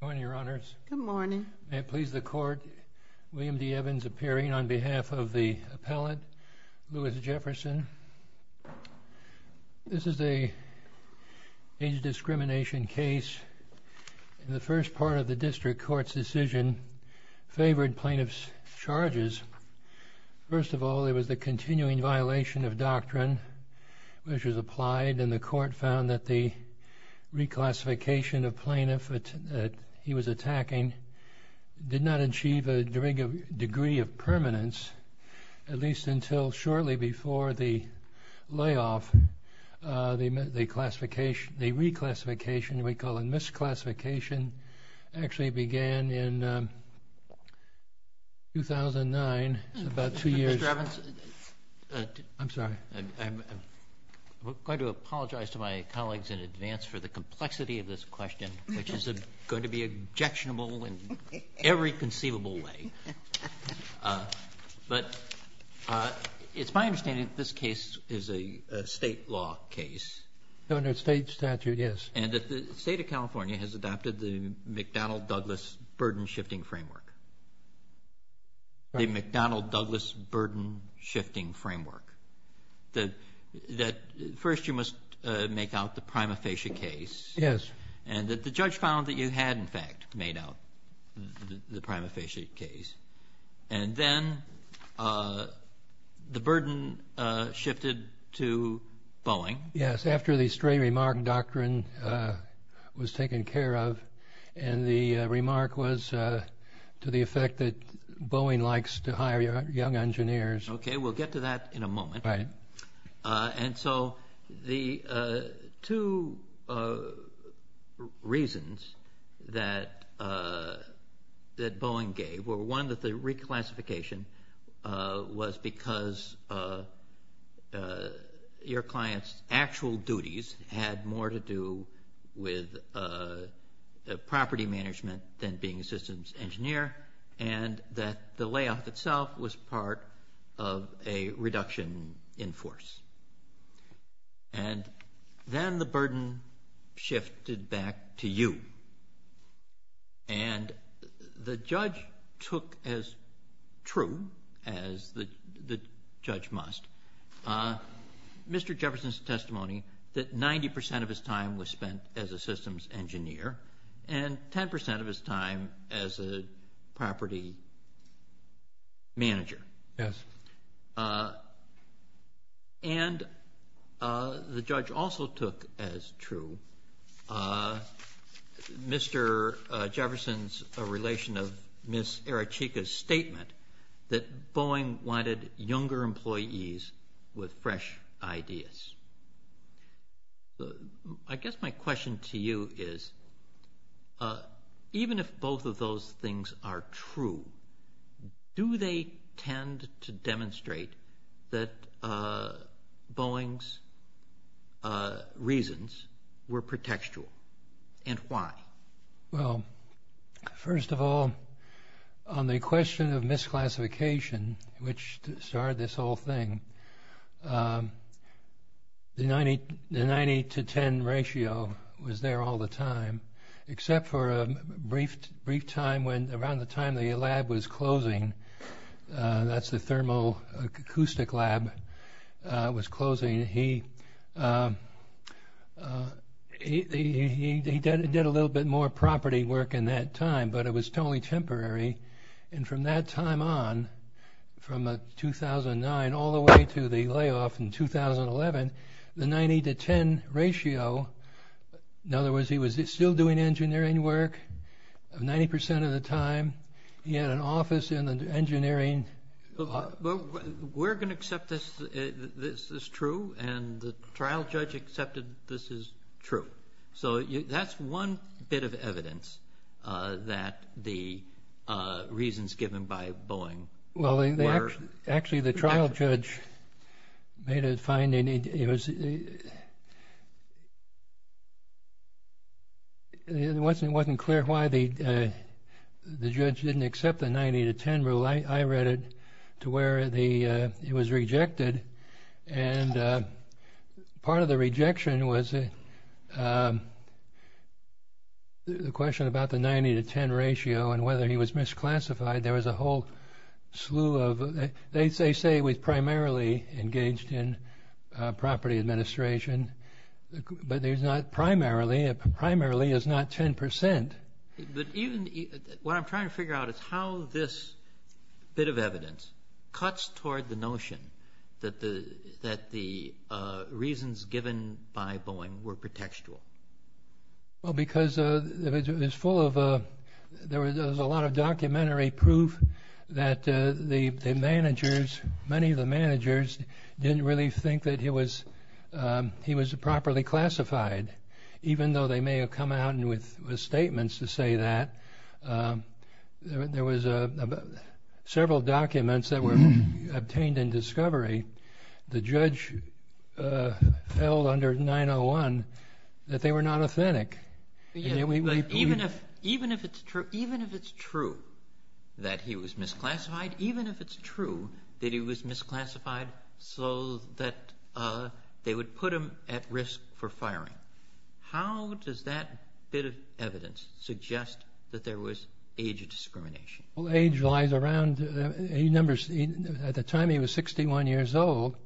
Good morning, your honors. Good morning. May it please the court, William D. Evans appearing on behalf of the appellate, Louis Jefferson. This is an age discrimination case. The first part of the district court's decision favored plaintiff's charges. First of all, it was a continuing violation of doctrine which was applied and the court found that the reclassification of plaintiff that he was attacking did not achieve a degree of permanence, at least until shortly before the layoff. The reclassification, we call it misclassification, actually began in 2009. It's about two years. Mr. Evans, I'm sorry. I'm going to apologize to my colleagues in advance for the complexity of this question, which is going to be objectionable in every conceivable way. But it's my understanding that this case is a state law case. Governor, it's state statute, yes. And that the state of California has adopted the McDonnell-Douglas burden-shifting framework. The McDonnell-Douglas burden-shifting framework. That first you must make out the prima facie case. Yes. And that the judge found that you had in fact made out the prima facie case. And then the burden shifted to Boeing. Yes, after the restraining remark doctrine was taken care of. And the remark was to the effect that Boeing likes to hire young engineers. Okay, we'll get to that in a moment. And so the two reasons that had more to do with property management than being a systems engineer. And that the layoff itself was part of a reduction in force. And then the burden shifted back to you. And the spent as a systems engineer. And 10% of his time as a property manager. Yes. And the judge also took as true Mr. Jefferson's relation of Ms. Arachicka's statement that Boeing wanted younger employees with fresh ideas. I guess my question to you is, even if both of those things are true, do they tend to demonstrate that Boeing's reasons were pretextual? And why? Well, first of all, on the question of misclassification, which started this whole thing, the 90 to 10 ratio was there all the time, except for a brief time when around the time the lab was closing. That's the thermal acoustic lab was closing. He did a little bit more property work in that time, but it was totally temporary. And from that time on, from 2009, all the way to the layoff in 2011, the 90 to 10 ratio. In other words, he was still doing engineering work. 90% of the time, he had an office in engineering. We're going to accept this. This is true. And the trial judge accepted this is true. So that's one bit of evidence that the reasons given by the judge didn't accept the 90 to 10 rule. I read it to where it was rejected. And part of the rejection was the question about the 90 to 10 ratio and whether he was misclassified. There was a whole slew of, they say he was primarily engaged in property administration, but there's primarily is not 10%. What I'm trying to figure out is how this bit of evidence cuts toward the notion that the reasons given by Boeing were pretextual. Well, because there was a lot of documentary proof that the managers, many of the managers didn't really think that he was misclassified. Even though they may have come out with statements to say that. There was several documents that were obtained in discovery. The judge held under 901 that they were not authentic. Even if it's true that he was misclassified, even if it's true that he was misclassified so that they would put him at risk for firing. How does that bit of evidence suggest that there was age discrimination? Age lies around, he numbers, at the time he was 61 years old.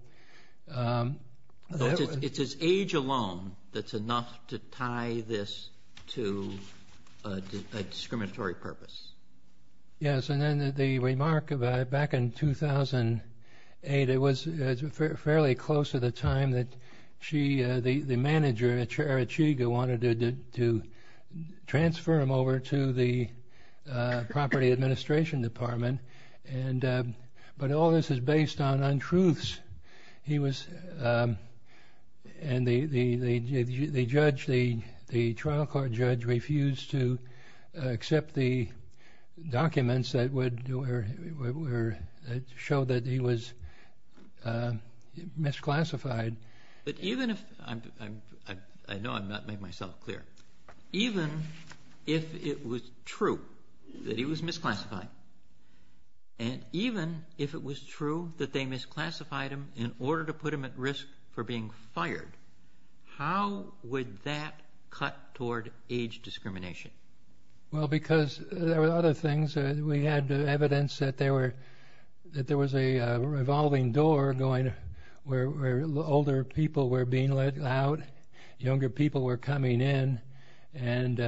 It's his age alone that's enough to tie this to a discriminatory purpose. Yes, and then the remark about back in 2008, it was fairly close to the time that she, the manager at Arachiga, wanted to transfer him over to the property administration department. But all this is based on untruths. He was, and the judge, the trial court judge refused to accept the documents that would show that he was misclassified. But even if, I know I'm not making myself clear, even if it was true that he was at risk for being fired, how would that cut toward age discrimination? Well, because there were other things. We had evidence that there were, that there was a revolving door going, where older people were being let out, younger people were coming in, and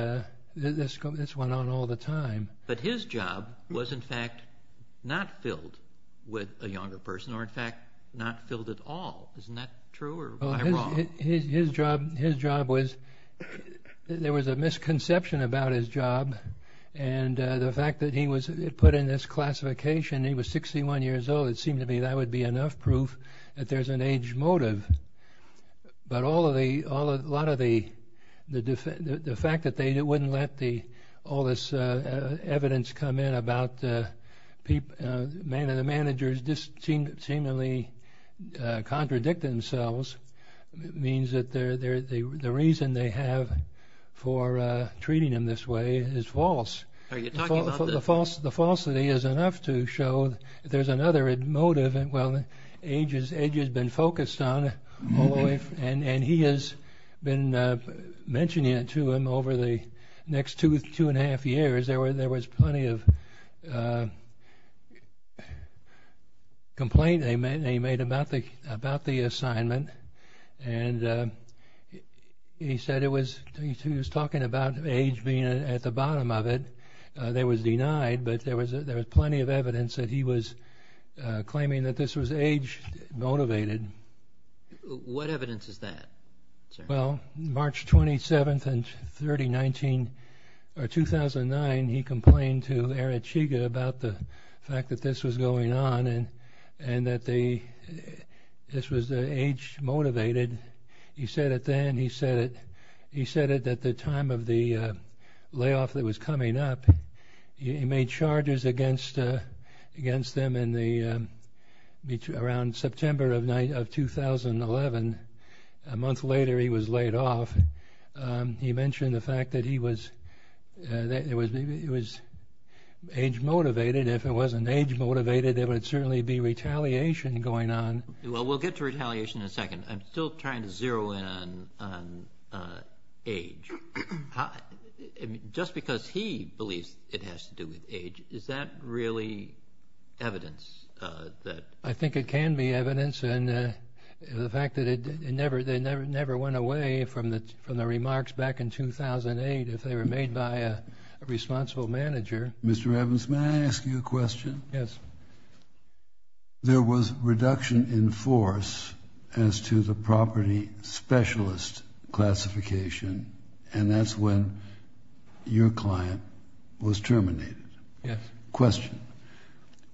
this went on all the time. But his job was in fact not filled with a younger person, or in fact not filled at all. Isn't that true? His job was, there was a misconception about his job, and the fact that he was put in this classification, he was 61 years old, it seemed to me that would be enough proof that there's an age come in about the managers just seemingly contradict themselves. It means that the reason they have for treating him this way is false. The falsity is enough to show that there's another motive. Well, age has been focused on, and he has been mentioning it to him over the next two and a half years. There was plenty of complaint they made about the assignment, and he said it was, he was talking about age being at the bottom of it. That was denied, but there was plenty of evidence that he was claiming that this was age motivated. What evidence is that, sir? Well, March 27th, 2009, he complained to Erich Higa about the fact that this was going on, and that this was age motivated. He said it then, he said it at the time of the layoff that was coming up. He made charges against them around September of 2011, a month later he was laid off. He mentioned the fact that he was age motivated. If it wasn't age motivated, there would certainly be retaliation going on. Well, we'll get to retaliation in a second. I'm still trying to zero in on age. Just because he believes it has to do with age, is that really evidence? I think it can be evidence, and the fact that it never went away from the remarks back in 2008, if they were made by a responsible manager. Mr. Evans, may I ask you a question? Yes. There was reduction in force as to the property specialist classification, and that's when your client was terminated. Yes. Question.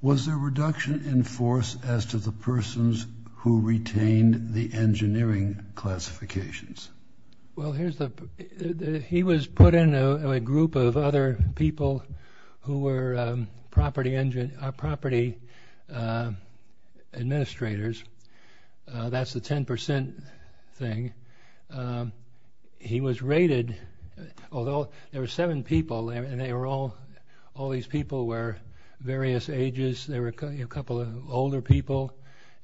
Was there reduction in force as to the persons who retained the engineering classifications? Well, here's the, he was put in a group of other people who were property administrators. That's the 10% thing. He was rated, although there were seven people, and they were all, all these people were various ages. There were a couple of older people,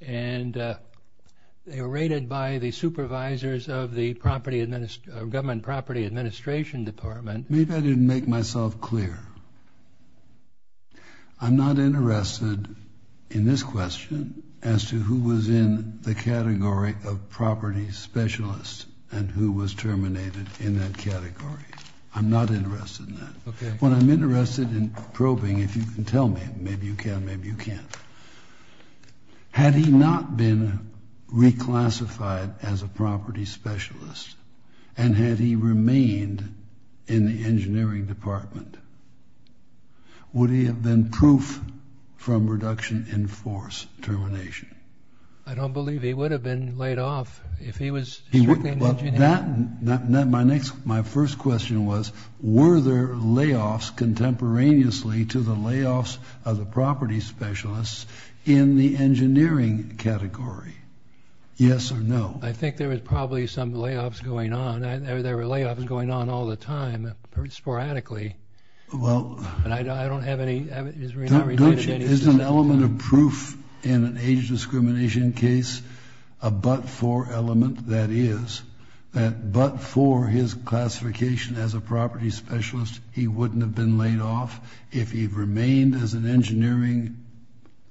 and they were rated by the supervisors of the property, government property administration department. Maybe I didn't make myself clear. I'm not was terminated in that category. I'm not interested in that. Okay. What I'm interested in probing, if you can tell me, maybe you can, maybe you can't. Had he not been reclassified as a property specialist, and had he remained in the engineering department, would he have been proof from reduction in force termination? I don't believe he would have been laid off if he was. My next, my first question was, were there layoffs contemporaneously to the layoffs of the property specialists in the engineering category? Yes or no? I think there was probably some layoffs going on. There were layoffs going on all the time, sporadically. Well. And I don't have any. Is an element of proof in an age discrimination case a but-for element? That is, that but-for his classification as a property specialist, he wouldn't have been laid off. If he remained as an engineering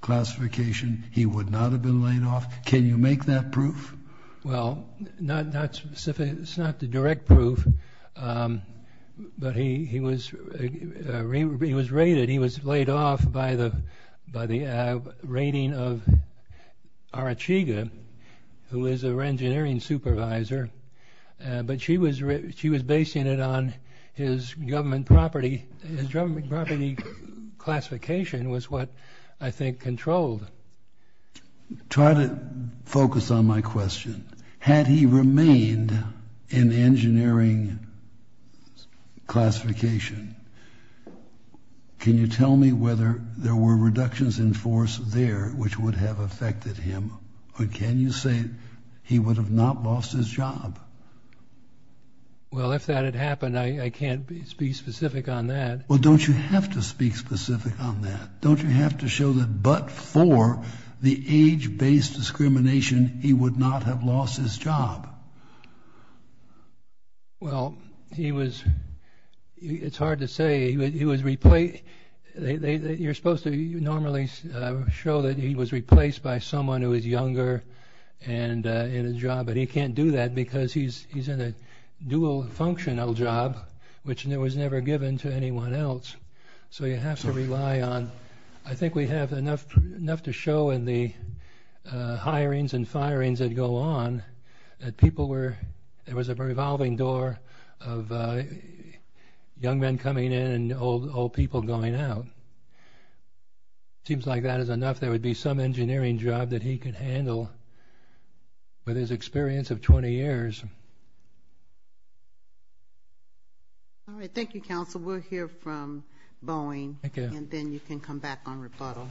classification, he would not have been laid off. Can you make that proof? Well, not specifically, it's not the direct proof, but he was raided. He was laid off by the raiding of Arachiga, who is an engineering supervisor. But she was basing it on his government property. His government property classification was what I think controlled. Try to focus on my question. Had he remained in the engineering classification, can you tell me whether there were reductions in force there, which would have affected him? Or can you say he would have not lost his job? Well, if that had happened, I can't speak specific on that. Well, don't you have to speak specific on that? Don't you have to show that but-for the age-based discrimination, he would not have lost his job? Well, he was, it's hard to say, he was replaced. You're supposed to normally show that he was replaced by someone who is younger and in a job, but he can't do that because he's in a dual functional job, which was never given to anyone else. So you have to rely on, I think we have enough to show in the hirings and firings that go on, that people were, there was a revolving door of young men coming in and old people going out. Seems like that is enough. There would be some All right. Thank you, Counsel. We'll hear from Boeing and then you can come back on rebuttal.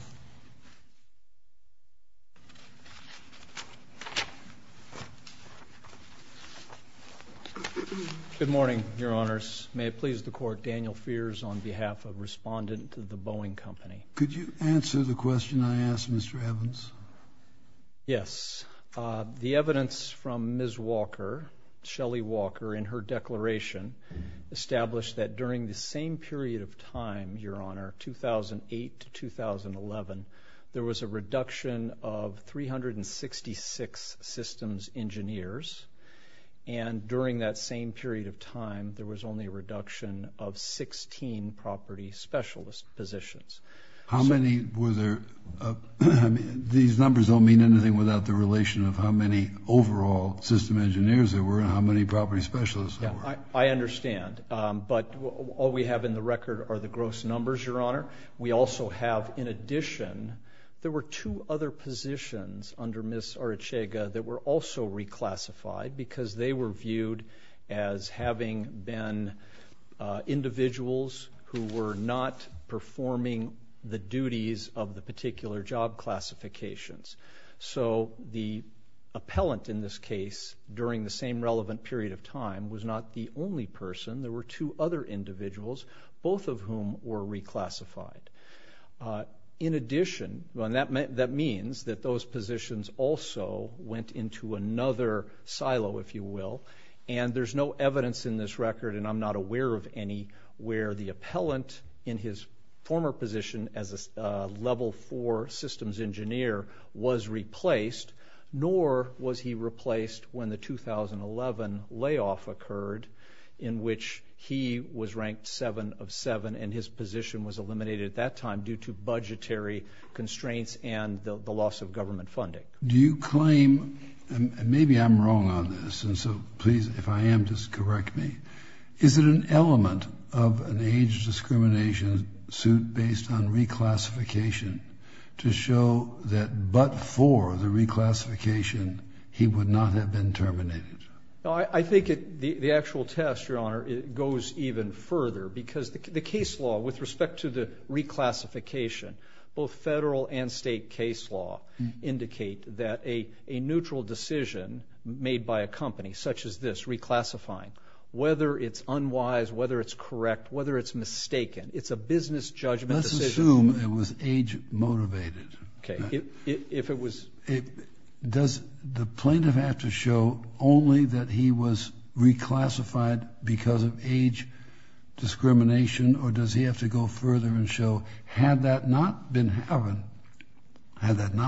Good morning, Your Honors. May it please the Court, Daniel Fears on behalf of respondent to the Boeing Company. Could you answer the question I asked, Mr. Evans? Yes. The evidence from Ms. Shelly Walker in her declaration established that during the same period of time, Your Honor, 2008 to 2011, there was a reduction of 366 systems engineers. And during that same period of time, there was only a reduction of 16 property specialist positions. How many were there? These numbers don't mean anything without the relation of how many overall system engineers there were and how many property specialists there were. I understand. But all we have in the record are the gross numbers, Your Honor. We also have, in addition, there were two other positions under Ms. Arrechega that were also reclassified because they were viewed as having been individuals who were not performing the duties of the particular job classifications. So the appellant in this case, during the same relevant period of time, was not the only person. There were two other individuals, both of whom were reclassified. In addition, that means that those positions also went into another silo, if you will. And there's no evidence in this record, and I'm not aware of any, where the appellant in his former position as a level four systems engineer was replaced, nor was he replaced when the 2011 layoff occurred, in which he was ranked seven of seven and his position was eliminated at that time due to budgetary constraints and the loss of government funding. Do you claim, and maybe I'm wrong on this, and so please, if I am, just correct me, is it an element of an age discrimination suit based on reclassification to show that, but for the reclassification, he would not have been terminated? I think the actual test, Your Honor, goes even further because the case law, with respect to the reclassification, both federal and state case law, indicate that a neutral decision made by a company such as this, whether it's unwise, whether it's correct, whether it's mistaken, it's a business judgment. Let's assume it was age-motivated. Does the plaintiff have to show only that he was reclassified because of age discrimination, or does he have to go further and show, had that not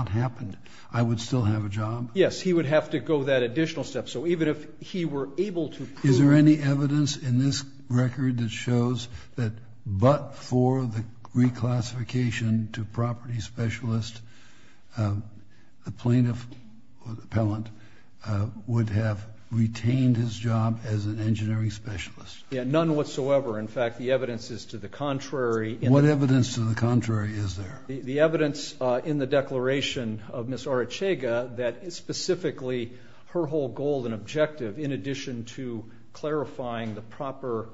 happened, I would still have a job? Yes, he would have to go that additional step. So even if he were able to prove... Is there any evidence in this record that shows that but for the reclassification to property specialist, the plaintiff, or the appellant, would have retained his job as an engineering specialist? Yeah, none whatsoever. In fact, the evidence is to the contrary. What evidence to the contrary is there? The evidence in the declaration of Ms. Arrechega that specifically her whole goal and objective, in addition to clarifying the proper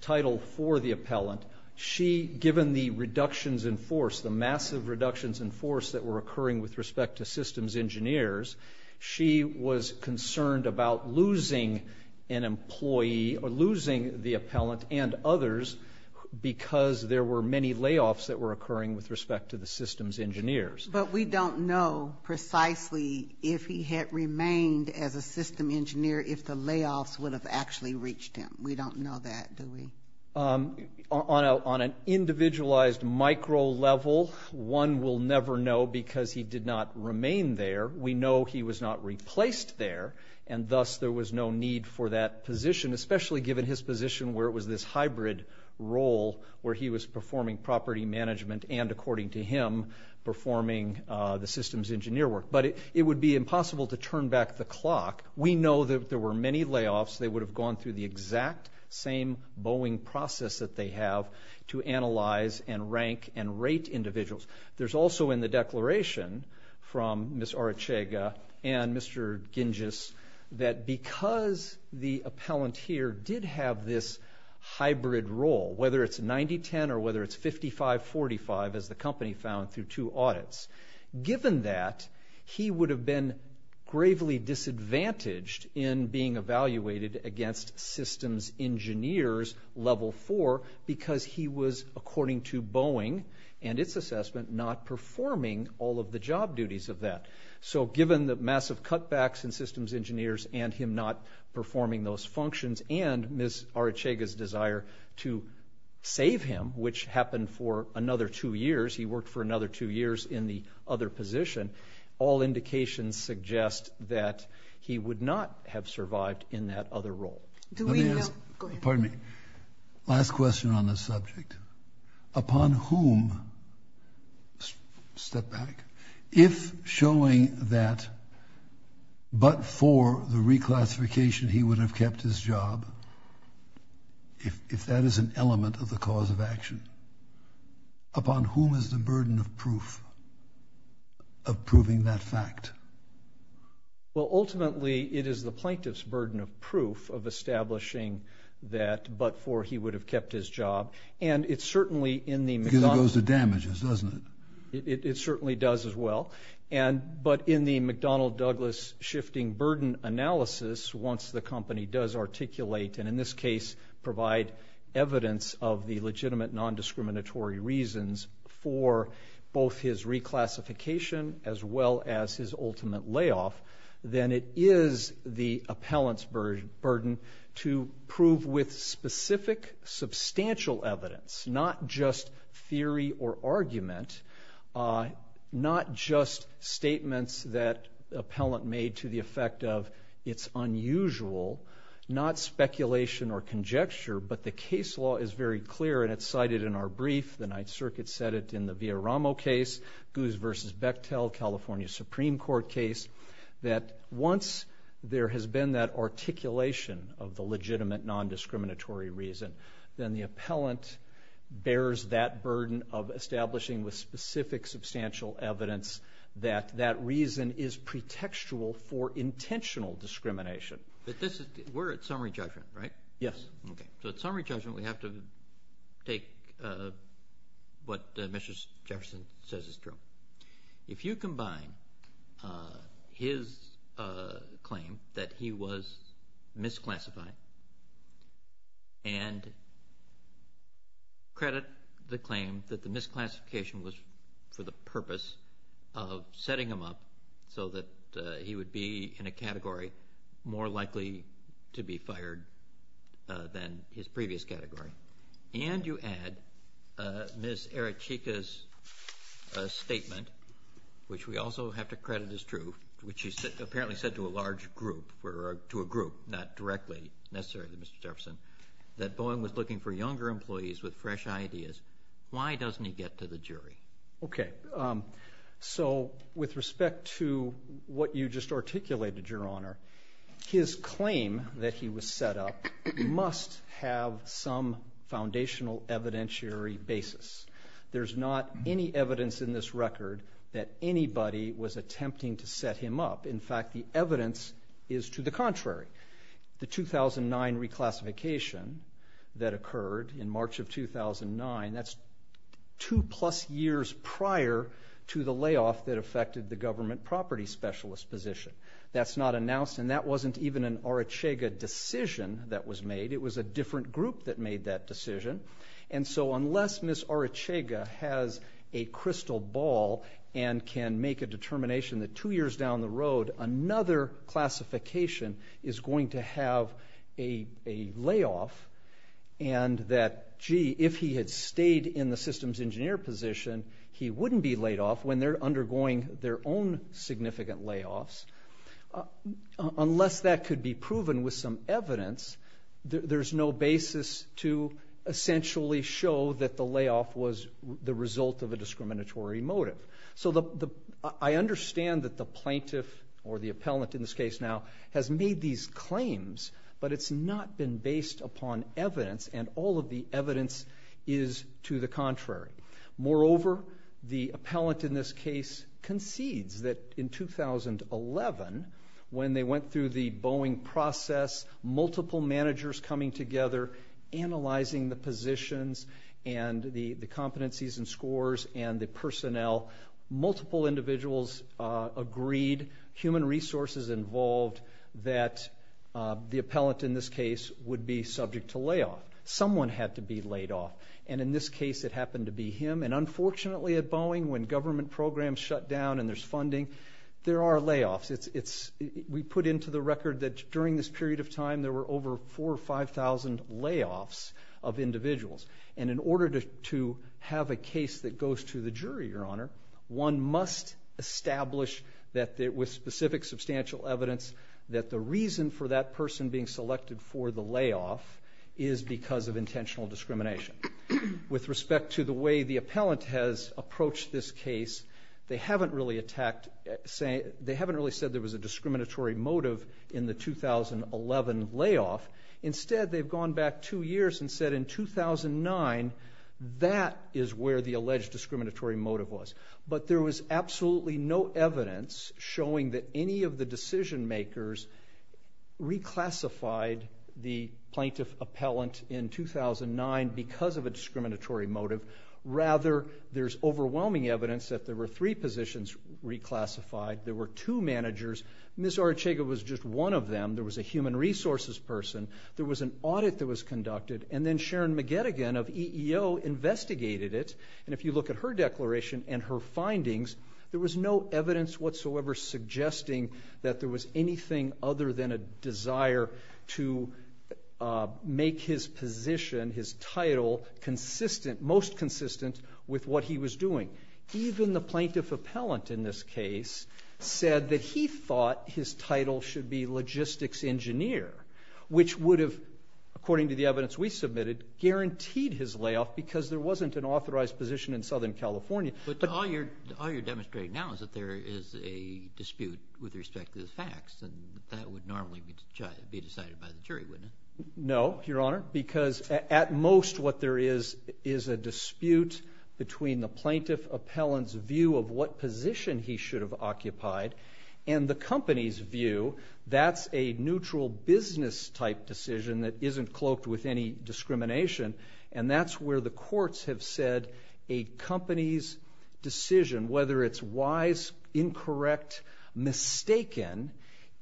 title for the appellant, she, given the reductions in force, the massive reductions in force that were occurring with respect to systems engineers, she was concerned about losing an employee or losing the appellant and others because there were many layoffs that were occurring with respect to the systems engineers. But we don't know precisely if he had remained as a system engineer if the layoffs would have actually reached him. We don't know that, do we? On an individualized micro level, one will never know because he did not remain there. We know he was not replaced there, and thus there was no need for that position, especially given his position where it was this hybrid role where he was performing property management and, according to him, performing the systems engineer work. But it would be impossible to turn back the clock. We know that there were many layoffs. They would have gone through the exact same Boeing process that they have to analyze and rank and rate individuals. There's also in the declaration from Ms. Arrechega and Mr. Gingis that because the appellant here did have this hybrid role, whether it's 90-10 or whether it's 55-45 as the company found through two audits, given that, he would have been gravely disadvantaged in being evaluated against systems engineers level four because he was, according to Boeing and its assessment, not performing all of the job duties of that. So given the massive cutbacks in systems engineers and him not performing those functions and Ms. Arrechega's desire to save him, which happened for another two years, he worked for another two years in the other position, all indications suggest that he would not have survived in that other role. Let me ask, pardon me, last question on this subject. Upon whom, step back, if showing that but for the reclassification he would have kept his job, if that is an element of the cause of action, upon whom is the burden of proof, of proving that fact? Well, ultimately, it is the plaintiff's burden of proof of establishing that but for he would have kept his job and it's certainly in the... Because it goes to damages, doesn't it? It certainly does as well and but in the McDonnell Douglas shifting burden analysis, once the company does articulate and in this case provide evidence of the legitimate non-discriminatory reasons for both his reclassification as well as his ultimate layoff, then it is the appellant's burden to prove with specific substantial evidence, not just theory or argument, not just statements that appellant made to the effect of it's unusual, not speculation or conjecture, but the case law is very clear and it's cited in our brief, the Ninth Circuit said it in the Villaramo case, Guz versus Bechtel, California Supreme Court case, that once there has been that articulation of the legitimate non-discriminatory reason, then the appellant bears that burden of establishing with specific substantial evidence that that reason is pretextual for intentional discrimination. But this is... We're at summary judgment, right? Yes. Okay. So at summary judgment we have to take what Mr. Jefferson says is true. If you combine his claim that he was misclassified and credit the claim that the misclassification was for the purpose of likely to be fired than his previous category, and you add Ms. Erichika's statement, which we also have to credit as true, which he apparently said to a large group, to a group, not directly necessarily to Mr. Jefferson, that Boeing was looking for younger employees with fresh ideas, why doesn't he get to the jury? Okay. So with respect to what you just articulated, Your Honor, his claim that he was set up must have some foundational evidentiary basis. There's not any evidence in this record that anybody was attempting to set him up. In fact, the evidence is to the contrary. The prior to the layoff that affected the government property specialist position. That's not announced, and that wasn't even an Erichika decision that was made. It was a different group that made that decision. And so unless Ms. Erichika has a crystal ball and can make a determination that two years down the road another classification is going to have a layoff, and that, gee, if he had stayed in the systems engineer position, he wouldn't be laid off when they're undergoing their own significant layoffs. Unless that could be proven with some evidence, there's no basis to essentially show that the layoff was the result of a discriminatory motive. So I understand that the plaintiff, or the appellant in this case now, has made these claims, but it's not been based upon evidence, and all of the evidence is to the contrary. Moreover, the appellant in this case concedes that in 2011, when they went through the Boeing process, multiple managers coming together, analyzing the positions and the competencies and scores and the personnel, multiple individuals agreed, human resources involved, that the appellant in this case would be subject to layoff. Someone had to be laid off, and in this case it happened to be him. And unfortunately at Boeing, when government programs shut down and there's funding, there are layoffs. We put into the record that during this period of time, there were over 4,000 or 5,000 layoffs of individuals. And in order to have a case that goes to the jury, your honor, one must establish that with specific substantial evidence, that the reason for that person being selected for the layoff is because of intentional discrimination. With respect to the way the appellant has approached this case, they haven't really said there was a discriminatory motive in the 2011 layoff. Instead, they've gone back two years and said in 2009, that is where the alleged discriminatory motive was. But there was absolutely no evidence showing that any of the decision makers reclassified the plaintiff appellant in 2009 because of a discriminatory motive. Rather, there's overwhelming evidence that there were three positions reclassified. There were two managers. Ms. Arrechaga was just one of them. There was a human resources person. There was an audit that was conducted. And then Sharon McGettigan of EEO investigated it. And if you look at her declaration and her findings, there was no evidence whatsoever suggesting that there was anything other than a desire to make his position, his title, consistent, most consistent with what he was doing. Even the plaintiff appellant in this case said that he thought his title should be logistics engineer, which would have, according to the evidence we submitted, guaranteed his layoff because there that would normally be decided by the jury, wouldn't it? No, Your Honor, because at most what there is is a dispute between the plaintiff appellant's view of what position he should have occupied and the company's view. That's a neutral business type decision that isn't cloaked with any discrimination. And that's where the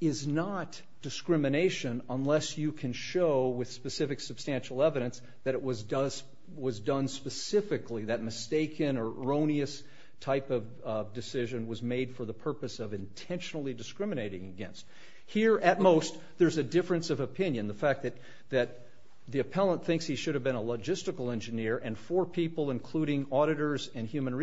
is not discrimination unless you can show with specific substantial evidence that it was done specifically, that mistaken or erroneous type of decision was made for the purpose of intentionally discriminating against. Here, at most, there's a difference of opinion. The fact that the appellant thinks he should have been a logistical engineer and four people, including auditors and human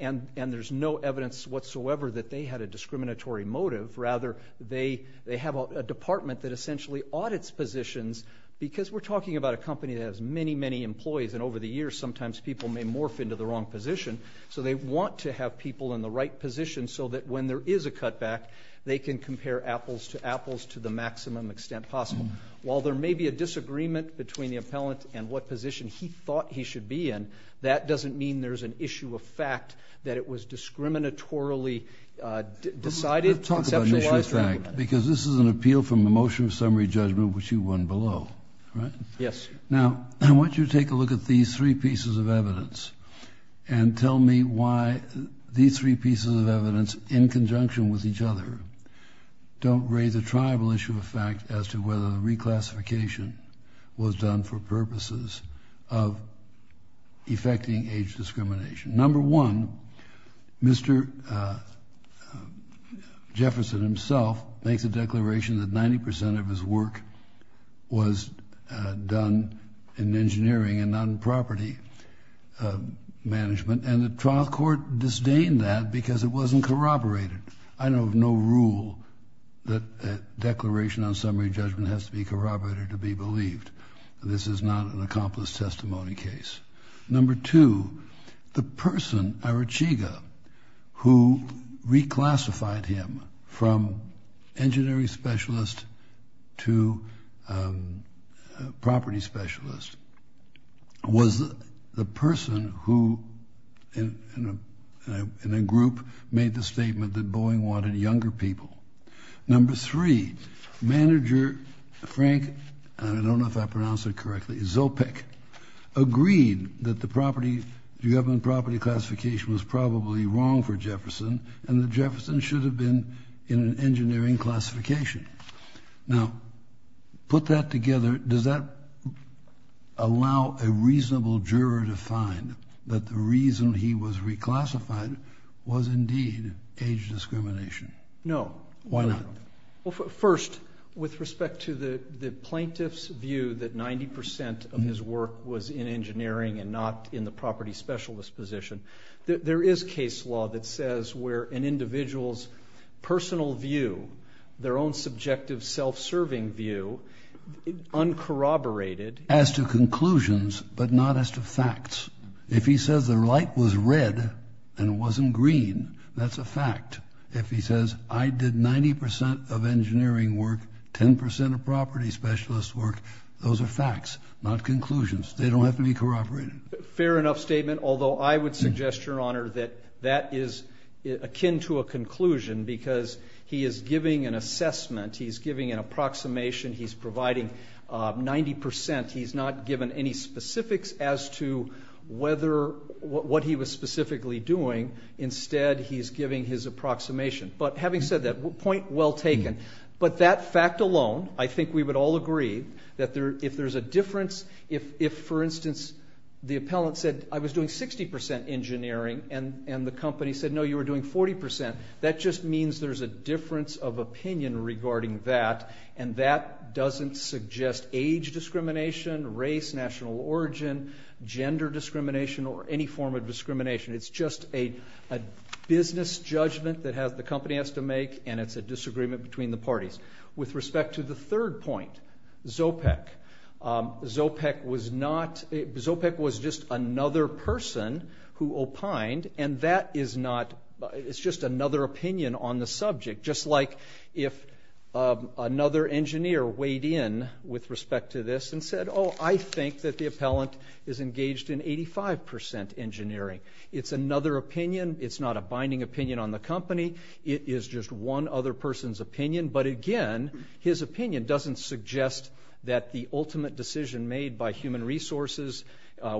and there's no evidence whatsoever that they had a discriminatory motive. Rather, they have a department that essentially audits positions because we're talking about a company that has many, many employees. And over the years, sometimes people may morph into the wrong position. So they want to have people in the right position so that when there is a cutback, they can compare apples to apples to the maximum extent possible. While there may be a disagreement between the appellant and what position he thought he should be in, that doesn't mean there's an issue of fact that it was discriminatorily decided, conceptualized or implemented. Let's talk about an issue of fact, because this is an appeal from the motion of summary judgment, which you won below, right? Yes. Now, I want you to take a look at these three pieces of evidence and tell me why these three pieces of evidence, in conjunction with each other, don't raise a tribal issue of fact as to whether the reclassification was done for purposes of effecting age discrimination. Number one, Mr. Jefferson himself makes a declaration that 90% of his work was done in engineering and not in property management, and the trial court disdained that because it wasn't corroborated. I don't have no rule that a declaration on summary judgment has to be corroborated to be believed. This is not an accomplice testimony case. Number two, the person, Arachiga, who reclassified him from engineering specialist to property specialist, was the person who, in a group, made the statement that Boeing wanted younger people. Number three, manager Frank, and I don't know if I pronounced it correctly, Zopik, agreed that the property, the government property classification was probably wrong for Jefferson and that Jefferson should have been in an engineering classification. Now, put that together, does that allow a reasonable juror to find that the reason he was reclassified was indeed age discrimination? No. Why not? Well, first, with respect to the plaintiff's view that 90% of his work was in engineering and not in the property specialist position, there is case law that says where an individual's personal view, their own subjective self-serving view, uncorroborated. As to conclusions, but not as to facts. If he says the light was red and it wasn't green, that's a fact. If he says I did 90% of engineering work, 10% of property specialist work, those are facts, not conclusions. They don't have to be corroborated. Fair enough statement, although I would suggest, Your Honor, that that is akin to a conclusion because he is giving an assessment, he's giving an approximation, he's providing 90%. He's not given any specifics as to whether, what he was specifically doing. Instead, he's giving his approximation. But having said that, point well taken. But that fact alone, I think we would all agree that if there's a difference, if, for instance, the appellant said I was doing 60% engineering and the company said no, you were doing 40%, that just means there's a difference of opinion regarding that. And that doesn't suggest age discrimination, race, national origin, gender discrimination, or any form of discrimination. It's just a business judgment that the company has to make and it's a disagreement between the parties. With respect to the third point, Zopek, Zopek was just another person who opined and that is not, it's just another opinion on the subject. Just like if another engineer weighed in with respect to this and said oh, I think that the appellant is engaged in 85% engineering. It's another opinion. It's not a binding opinion on the company. It is just one other person's opinion. But, again, his opinion doesn't suggest that the ultimate decision made by human resources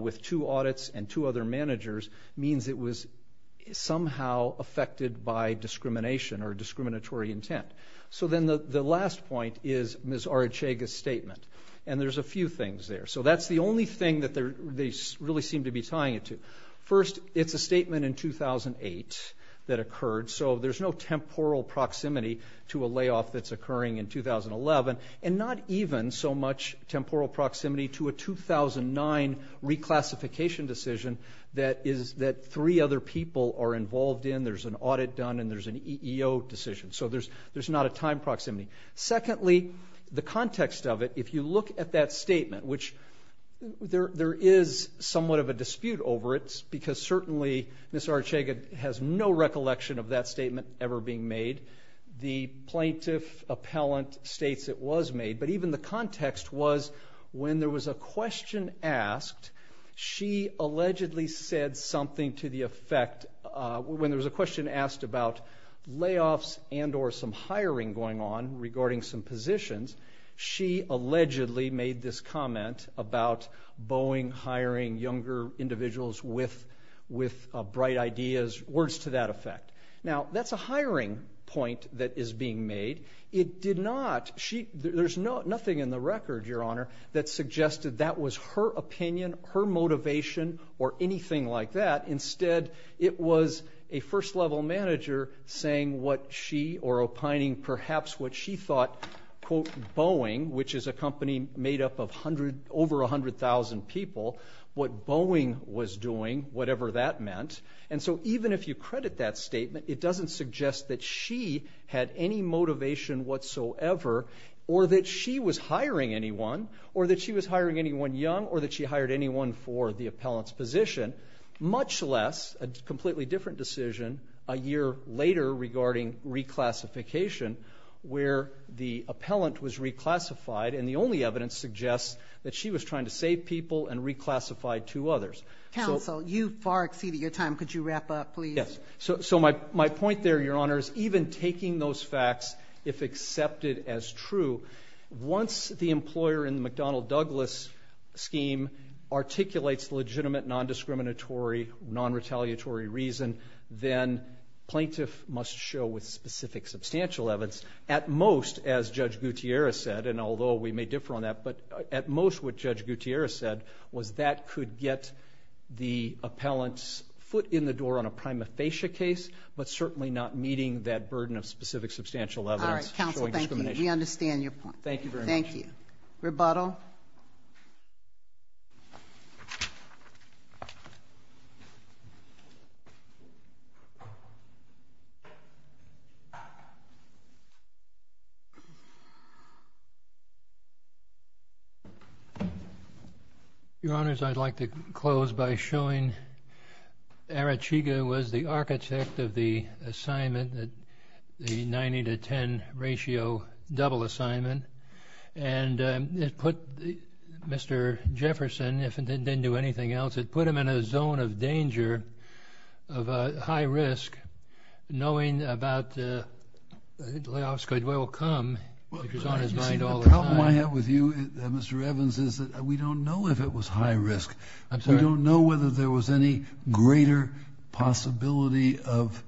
with two audits and two other managers means it was somehow affected by discrimination or discriminatory intent. So then the last point is Ms. Arechega's statement. And there's a few things there. So that's the only thing that they really seem to be tying it to. First, it's a statement in 2008 that occurred. So there's no temporal proximity to a layoff that's occurring in 2011 and not even so much temporal proximity to a 2009 reclassification decision that three other people are involved in. There's an audit done and there's an EEO decision. So there's not a time proximity. Secondly, the context of it, if you look at that statement, which there is somewhat of a dispute over it because certainly Ms. Arechega has no recollection of that statement ever being made. The plaintiff appellant states it was made. But even the context was when there was a question asked, she allegedly said something to the effect, when there was a question asked about layoffs and or some hiring going on regarding some positions, she allegedly made this comment about Boeing hiring younger individuals with bright ideas, words to that effect. Now, that's a hiring point that is being made. There's nothing in the record, Your Honor, that suggested that was her opinion, her motivation, or anything like that. Instead, it was a first-level manager saying what she or opining perhaps what she thought, quote, Boeing, which is a company made up of over 100,000 people, what Boeing was doing, whatever that meant. And so even if you credit that statement, it doesn't suggest that she had any motivation whatsoever or that she was hiring anyone or that she was hiring anyone young or that she hired anyone for the appellant's position, much less a completely different decision a year later regarding reclassification where the appellant was reclassified and the only evidence suggests that she was trying to save people and reclassify two others. Counsel, you've far exceeded your time. Could you wrap up, please? Yes. So my point there, Your Honor, is even taking those facts, if accepted as true, once the employer in the McDonnell-Douglas scheme articulates legitimate, nondiscriminatory, nonretaliatory reason, then plaintiff must show with specific substantial evidence, at most, as Judge Gutierrez said, and although we may differ on that, but at most what Judge Gutierrez said was that could get the appellant's foot in the door on a prima facie case, but certainly not meeting that burden of specific substantial evidence. All right. Counsel, thank you. We understand your point. Thank you very much. Thank you. Rebuttal. Your Honors, I'd like to close by showing Arachiga was the architect of the assignment, the 90 to 10 ratio double assignment, and it put Mr. Jefferson, if it didn't do anything else, it put him in a zone of danger, of high risk, knowing about Leofsky will come, which was on his mind all the time. The problem I have with you, Mr. Evans, is that we don't know if it was high risk. I'm sorry? We don't know whether there was any greater possibility of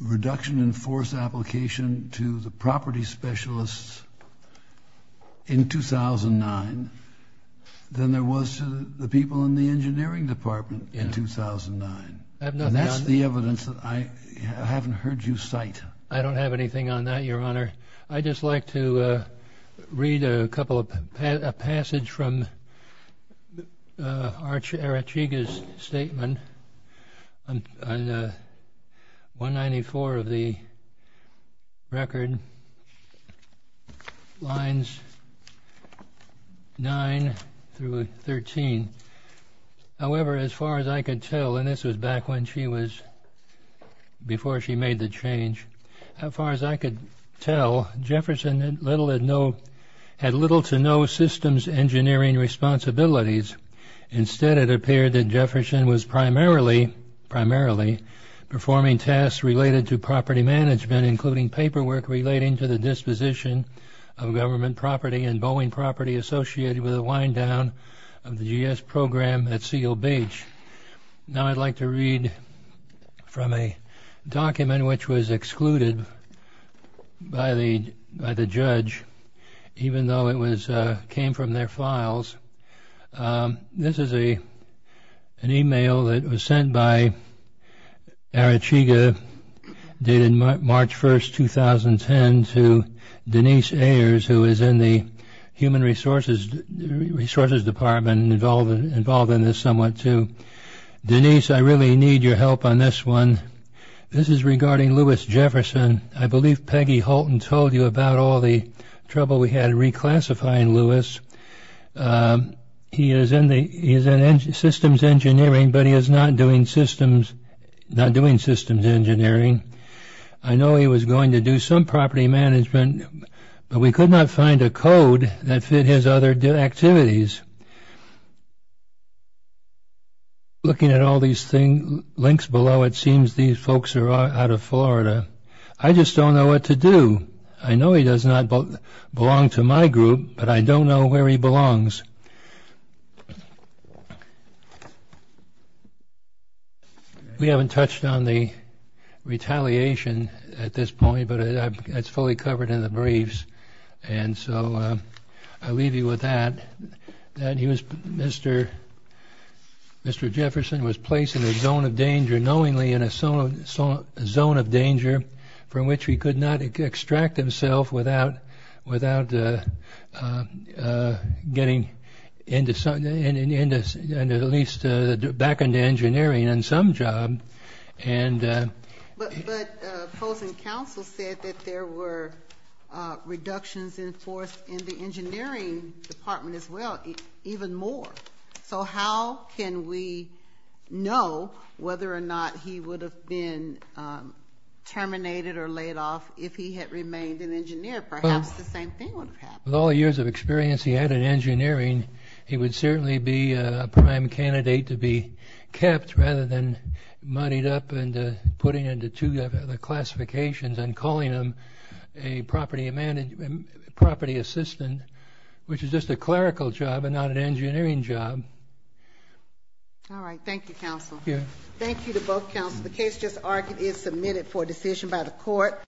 reduction in force application to the property specialists in 2009 than there was to the people in the engineering department in 2009. I have nothing on that. And that's the evidence that I haven't heard you cite. I don't have anything on that, Your Honor. I'd just like to read a passage from Arachiga's statement on 194 of the record, lines 9 through 13. However, as far as I could tell, and this was back when she was, before she made the change, as far as I could tell, Jefferson had little to no systems engineering responsibilities. Instead, it appeared that Jefferson was primarily performing tasks related to property management, including paperwork relating to the disposition of government property and Boeing property associated with the wind down of the GS program at Seal Beach. Now I'd like to read from a document which was excluded by the judge, even though it came from their files. This is an email that was sent by Arachiga dated March 1, 2010 to Denise Ayers, who is in the human resources department involved in this somewhat too. Denise, I really need your help on this one. This is regarding Lewis Jefferson. I believe Peggy Holton told you about all the trouble we had reclassifying Lewis. He is in systems engineering, but he is not doing systems engineering. I know he was going to do some property management, but we could not find a code that fit his other activities. Looking at all these links below, it seems these folks are out of Florida. I just don't know what to do. I know he does not belong to my group, but I don't know where he belongs. We haven't touched on the retaliation at this point, but it's fully covered in the briefs. I'll leave you with that. Mr. Jefferson was placed in a zone of danger, knowingly in a zone of danger from which he could not extract himself without getting back into engineering and some job. But opposing counsel said that there were reductions in force in the engineering department as well, even more. How can we know whether or not he would have been terminated or laid off if he had remained an engineer? Perhaps the same thing would have happened. With all the years of experience he had in engineering, he would certainly be a prime candidate to be kept rather than muddied up and put into two other classifications and calling him a property assistant, which is just a clerical job and not an engineering job. All right. Thank you, counsel. Thank you to both counsels. The case just argued is submitted for decision by the court.